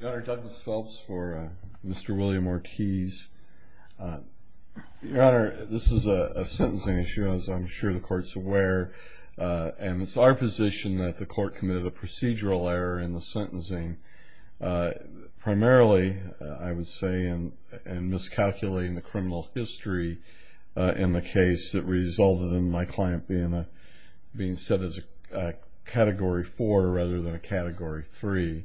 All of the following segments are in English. Your Honor, Douglas Phelps for Mr. William Ortiz. Your Honor, this is a sentencing issue, as I'm sure the Court's aware, and it's our position that the Court committed a procedural error in the sentencing, primarily, I would say, in miscalculating the criminal history in the case that resulted in my client being set as a Category 4 rather than a Category 3.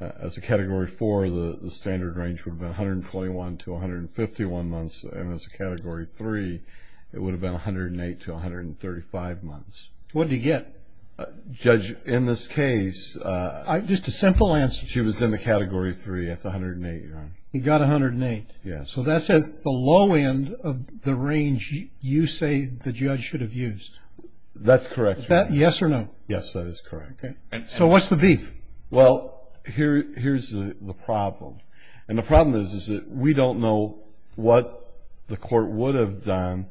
As a Category 4, the standard range would have been 121 to 151 months, and as a Category 3, it would have been 108 to 135 months. What did he get? Judge, in this case... Just a simple answer. She was in the Category 3 at the 108, Your Honor. He got 108. Yes. So that's at the low end of the range you say the judge should have used. That's correct, Your Honor. Is that yes or no? Yes, that is correct. Okay. So what's the beef? Well, here's the problem. And the problem is that we don't know what the Court would have done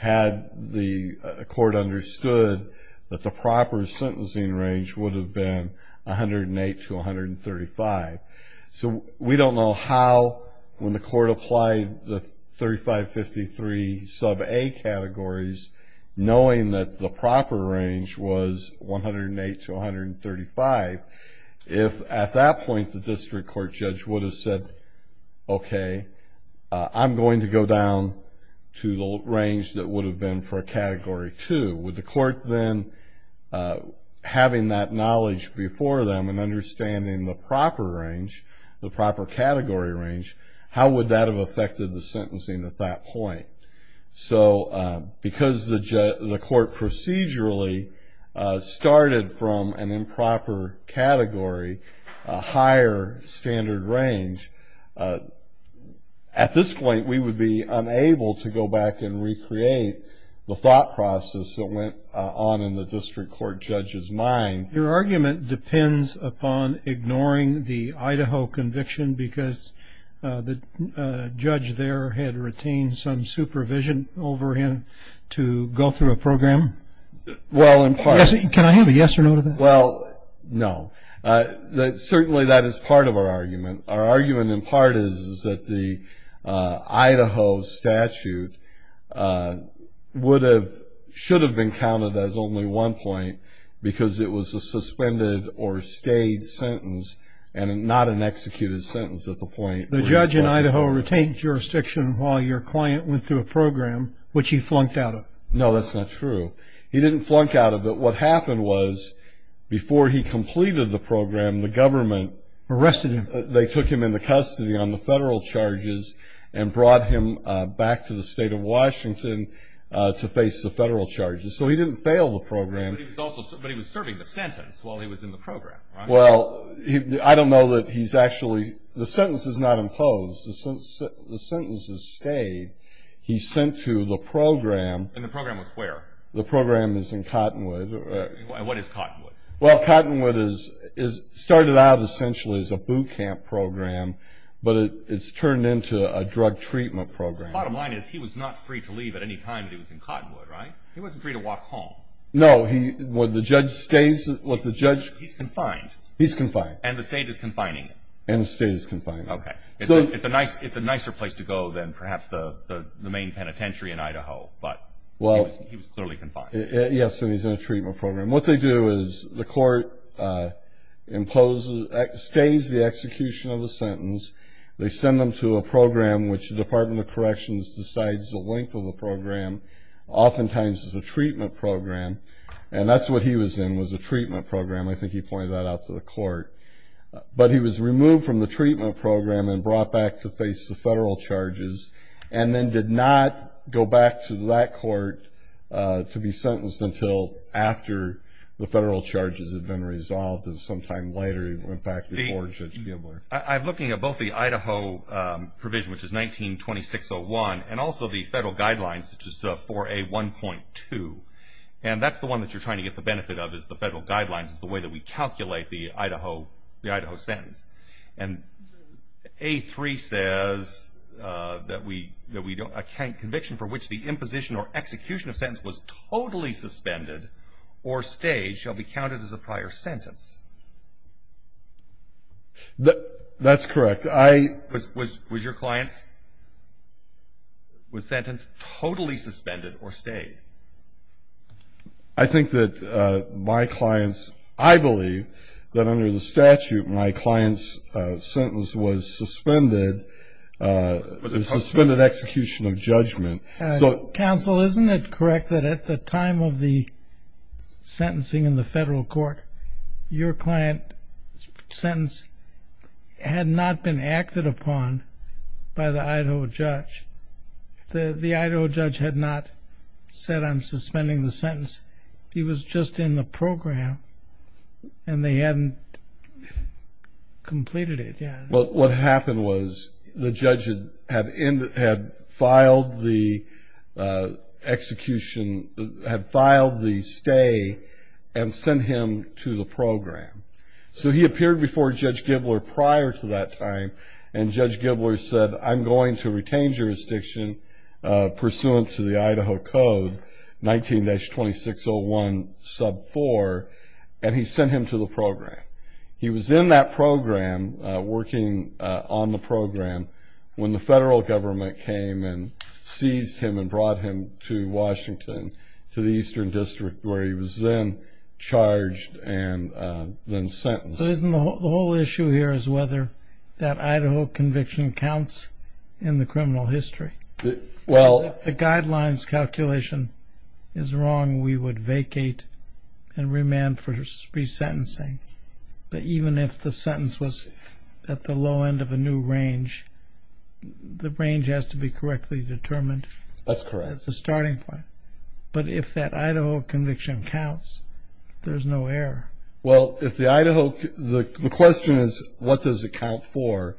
had the Court understood that the proper sentencing range would have been 108 to 135. So we don't know how, when the Court applied the 3553 sub-A categories, knowing that the proper range was 108 to 135, if at that point the district court judge would have said, okay, I'm going to go down to the range that would have been for a Category 2. Would the Court then, having that knowledge before them and understanding the proper range, the proper category range, how would that have affected the sentencing at that point? So because the Court procedurally started from an improper category, a higher standard range, at this point we would be unable to go back and recreate the thought process that went on in the district court judge's mind. Your argument depends upon ignoring the Idaho conviction because the judge there had retained some supervision over him to go through a program? Well, in part. Can I have a yes or no to that? Well, no. Certainly that is part of our argument. Our argument in part is that the Idaho statute would have, should have been counted as only one point because it was a suspended or stayed sentence and not an executed sentence at the point. The judge in Idaho retained jurisdiction while your client went through a program, which he flunked out of? No, that's not true. He didn't flunk out of it. What happened was, before he completed the program, the government arrested him. They took him into custody on the federal charges and brought him back to the State of Washington to face the federal charges. So he didn't fail the program. But he was serving the sentence while he was in the program, right? Well, I don't know that he's actually, the sentence is not imposed. The sentence is stayed. He's sent to the program. And the program was where? The program is in Cottonwood. And what is Cottonwood? Well, Cottonwood is, started out essentially as a boot camp program, but it's turned into a drug treatment program. Bottom line is he was not free to leave at any time that he was in Cottonwood, right? He wasn't free to walk home. No, he, what the judge stays, what the judge. He's confined. He's confined. And the state is confining him. And the state is confining him. Okay. It's a nicer place to go than perhaps the main penitentiary in Idaho, but he was clearly confined. Yes, and he's in a treatment program. What they do is the court imposes, stays the execution of the sentence. They send him to a program, which the Department of Corrections decides the length of the program. Oftentimes it's a treatment program. And that's what he was in was a treatment program. I think he pointed that out to the court. But he was removed from the treatment program and brought back to face the federal charges and then did not go back to that court to be sentenced until after the federal charges had been resolved. And sometime later he went back before Judge Gimler. I'm looking at both the Idaho provision, which is 19-2601, and also the federal guidelines, which is 4A1.2. And that's the one that you're trying to get the benefit of is the federal guidelines, is the way that we calculate the Idaho sentence. And A3 says that we don't account conviction for which the imposition or execution of sentence was totally suspended or stayed shall be counted as a prior sentence. That's correct. Was your client's sentence totally suspended or stayed? I think that my client's, I believe that under the statute, my client's sentence was suspended, a suspended execution of judgment. Counsel, isn't it correct that at the time of the sentencing in the federal court, your client's sentence had not been acted upon by the Idaho judge? The Idaho judge had not said, I'm suspending the sentence. He was just in the program, and they hadn't completed it. Well, what happened was the judge had filed the execution, had filed the stay and sent him to the program. So he appeared before Judge Gimler prior to that time, and Judge Gimler said, I'm going to retain jurisdiction pursuant to the Idaho Code 19-2601 sub 4, and he sent him to the program. He was in that program working on the program when the federal government came and seized him and brought him to Washington to the Eastern District, where he was then charged and then sentenced. The whole issue here is whether that Idaho conviction counts in the criminal history. If the guidelines calculation is wrong, we would vacate and remand for resentencing. But even if the sentence was at the low end of a new range, the range has to be correctly determined. That's correct. That's the starting point. But if that Idaho conviction counts, there's no error. Well, the question is, what does it count for?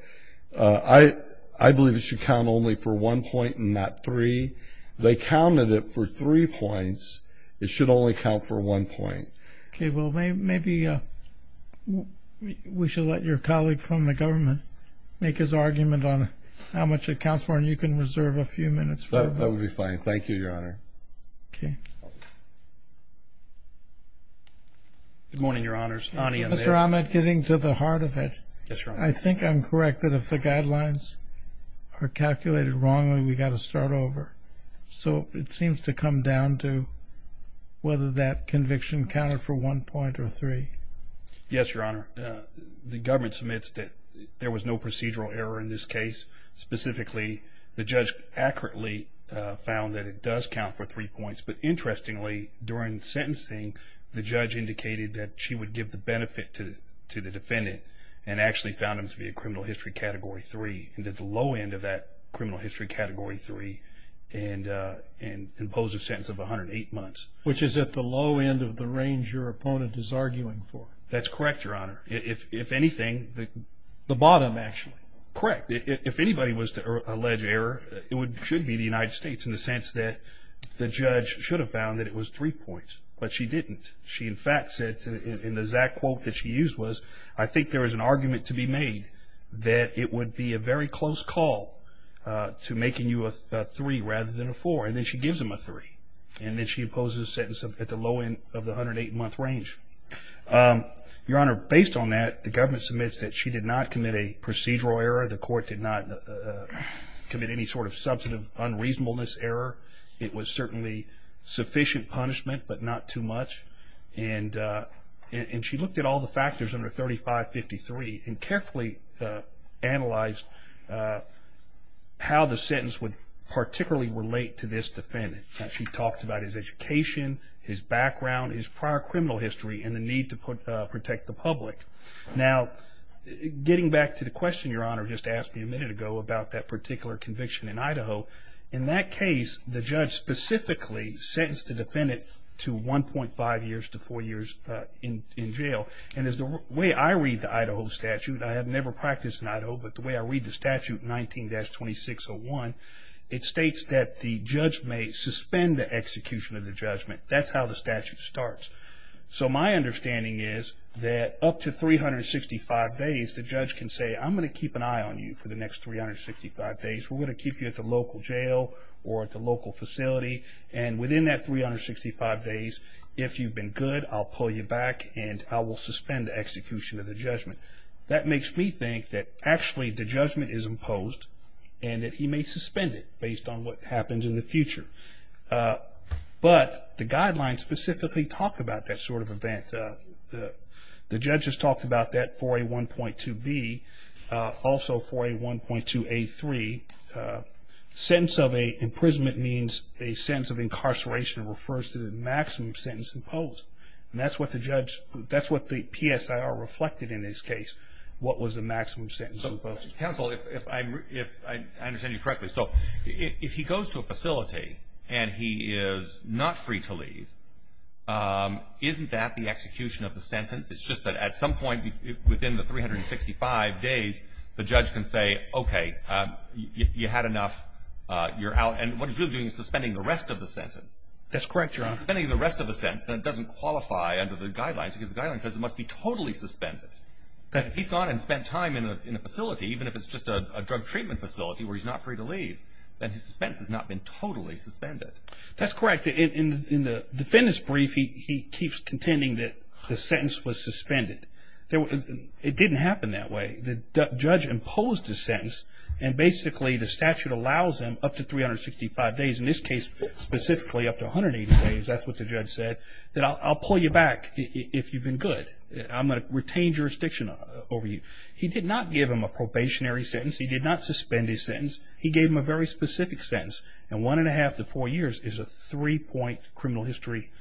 I believe it should count only for one point and not three. They counted it for three points. It should only count for one point. Okay. Well, maybe we should let your colleague from the government make his argument on how much it counts for, and you can reserve a few minutes for him. That would be fine. Thank you, Your Honor. Okay. Good morning, Your Honors. Mr. Ahmed, getting to the heart of it. Yes, Your Honor. I think I'm correct that if the guidelines are calculated wrongly, we've got to start over. So it seems to come down to whether that conviction counted for one point or three. Yes, Your Honor. The government submits that there was no procedural error in this case. Specifically, the judge accurately found that it does count for three points. But interestingly, during the sentencing, the judge indicated that she would give the benefit to the defendant and actually found him to be a criminal history Category 3, and at the low end of that criminal history Category 3 imposed a sentence of 108 months. Which is at the low end of the range your opponent is arguing for. That's correct, Your Honor. If anything, the bottom, actually. Correct. If anybody was to allege error, it should be the United States, in the sense that the judge should have found that it was three points. But she didn't. She, in fact, said in the exact quote that she used was, I think there is an argument to be made that it would be a very close call to making you a three rather than a four. And then she gives him a three. And then she imposes a sentence at the low end of the 108-month range. Your Honor, based on that, the government submits that she did not commit a procedural error. The court did not commit any sort of substantive unreasonableness error. It was certainly sufficient punishment, but not too much. And she looked at all the factors under 3553 and carefully analyzed how the sentence would particularly relate to this defendant. She talked about his education, his background, his prior criminal history, and the need to protect the public. Now, getting back to the question Your Honor just asked me a minute ago about that particular conviction in Idaho, in that case the judge specifically sentenced the defendant to 1.5 years to four years in jail. And as the way I read the Idaho statute, I have never practiced in Idaho, but the way I read the statute, 19-2601, it states that the judge may suspend the execution of the judgment. That's how the statute starts. So my understanding is that up to 365 days, the judge can say, I'm going to keep an eye on you for the next 365 days. We're going to keep you at the local jail or at the local facility, and within that 365 days, if you've been good, I'll pull you back and I will suspend the execution of the judgment. That makes me think that actually the judgment is imposed and that he may suspend it based on what happens in the future. But the guidelines specifically talk about that sort of event. The judge has talked about that for a 1.2B, also for a 1.2A3. Sentence of an imprisonment means a sentence of incarceration refers to the maximum sentence imposed. And that's what the judge, that's what the PSIR reflected in this case, what was the maximum sentence imposed. Counsel, if I understand you correctly, so if he goes to a facility and he is not free to leave, isn't that the execution of the sentence? It's just that at some point within the 365 days, the judge can say, okay, you had enough, you're out. And what he's really doing is suspending the rest of the sentence. That's correct, Your Honor. Suspending the rest of the sentence. That doesn't qualify under the guidelines because the guidelines says it must be totally suspended. If he's gone and spent time in a facility, even if it's just a drug treatment facility where he's not free to leave, then his suspense has not been totally suspended. That's correct. In the defendant's brief, he keeps contending that the sentence was suspended. It didn't happen that way. The judge imposed a sentence, and basically the statute allows him up to 365 days, in this case specifically up to 180 days, that's what the judge said, that I'll pull you back if you've been good. I'm going to retain jurisdiction over you. He did not give him a probationary sentence. He did not suspend his sentence. He gave him a very specific sentence, and one and a half to four years is a three-point criminal history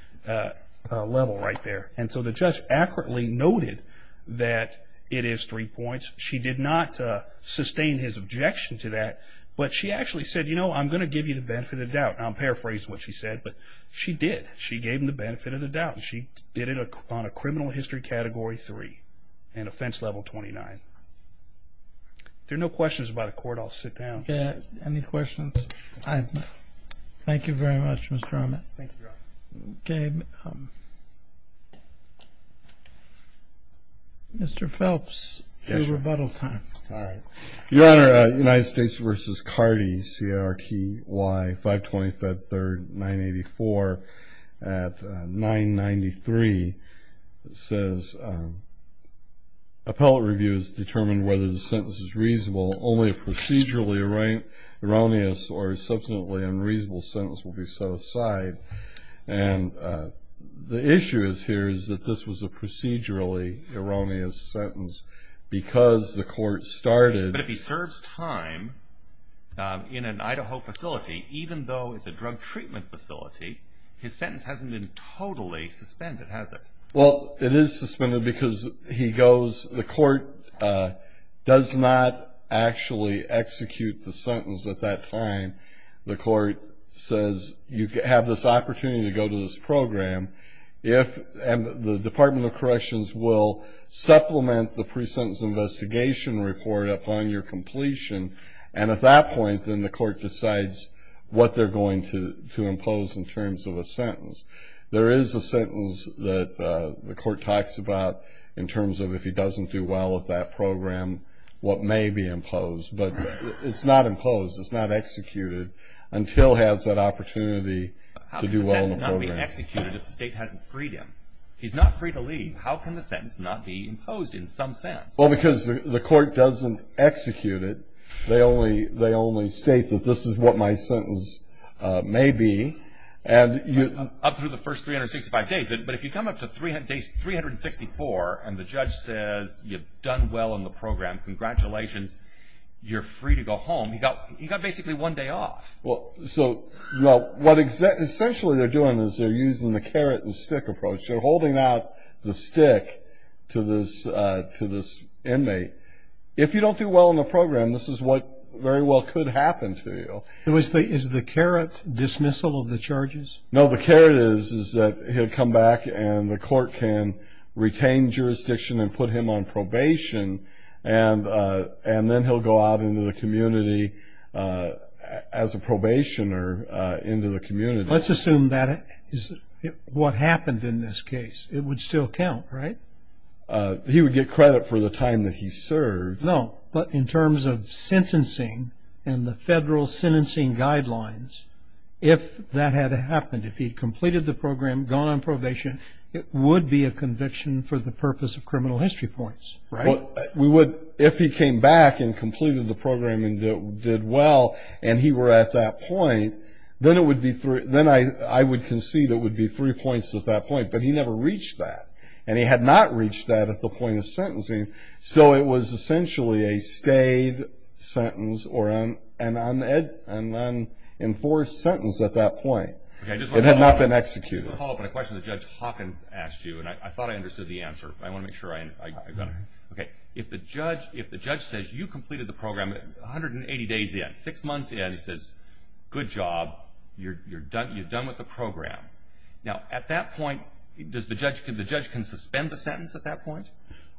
level right there. And so the judge accurately noted that it is three points. She did not sustain his objection to that, but she actually said, you know, I'm going to give you the benefit of the doubt. And I'll paraphrase what she said, but she did. She gave him the benefit of the doubt. She did it on a criminal history category three and offense level 29. If there are no questions about the court, I'll sit down. Any questions? Thank you very much, Mr. Armit. Thank you, Your Honor. Okay. Mr. Phelps, your rebuttal time. All right. Your Honor, United States v. Cardi, C-A-R-D-Y, 520 Fed 3rd, 984, at 993. It says, appellate review has determined whether the sentence is reasonable. Only a procedurally erroneous or subsequently unreasonable sentence will be set aside. And the issue here is that this was a procedurally erroneous sentence because the court started. But if he serves time in an Idaho facility, even though it's a drug treatment facility, his sentence hasn't been totally suspended, has it? Well, it is suspended because he goes, the court does not actually execute the sentence at that time. The court says, you have this opportunity to go to this program, and the Department of Corrections will supplement the pre-sentence investigation report upon your completion. And at that point, then the court decides what they're going to impose in terms of a sentence. There is a sentence that the court talks about in terms of if he doesn't do well with that program, what may be imposed. But it's not imposed. It's not executed until he has that opportunity to do well in the program. How can the sentence not be executed if the state hasn't freed him? He's not free to leave. How can the sentence not be imposed in some sense? Well, because the court doesn't execute it. They only state that this is what my sentence may be. Up through the first 365 days. But if you come up to 364 and the judge says, you've done well in the program, congratulations, you're free to go home, he got basically one day off. Well, so what essentially they're doing is they're using the carrot and stick approach. They're holding out the stick to this inmate. If you don't do well in the program, this is what very well could happen to you. Is the carrot dismissal of the charges? No, the carrot is that he'll come back and the court can retain jurisdiction and put him on probation, and then he'll go out into the community as a probationer into the community. Let's assume that is what happened in this case. It would still count, right? He would get credit for the time that he served. No, but in terms of sentencing and the federal sentencing guidelines, if that had happened, if he had completed the program, gone on probation, it would be a conviction for the purpose of criminal history points. Right. If he came back and completed the program and did well and he were at that point, then I would concede it would be three points at that point. But he never reached that, and he had not reached that at the point of sentencing. So it was essentially a stayed sentence or an unenforced sentence at that point. It had not been executed. I just want to follow up on a question that Judge Hawkins asked you, and I thought I understood the answer, but I want to make sure I got it right. Okay. If the judge says, you completed the program 180 days in, six months in, he says, good job, you're done with the program. Now, at that point, the judge can suspend the sentence at that point?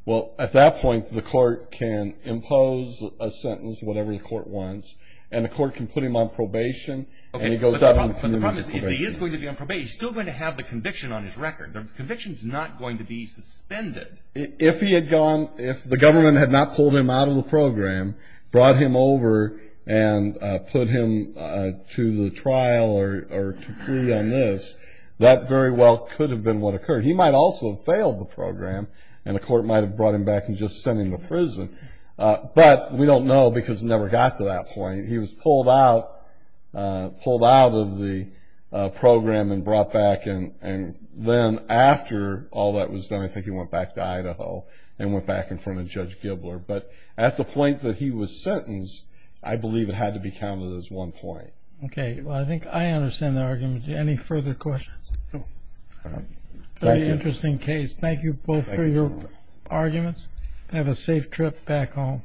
Well, at that point, the court can impose a sentence, whatever the court wants, and the court can put him on probation, and he goes out into the community as a probationer. But the problem is, if he is going to be on probation, he's still going to have the conviction on his record. The conviction is not going to be suspended. If he had gone, if the government had not pulled him out of the program, brought him over, and put him to the trial or to plea on this, that very well could have been what occurred. He might also have failed the program, and the court might have brought him back and just sent him to prison. But we don't know because it never got to that point. He was pulled out of the program and brought back, and then after all that was done, I think he went back to Idaho and went back in front of Judge Gibler. But at the point that he was sentenced, I believe it had to be counted as one point. Okay. Well, I think I understand the argument. Any further questions? Very interesting case. Thank you both for your arguments. Have a safe trip back home.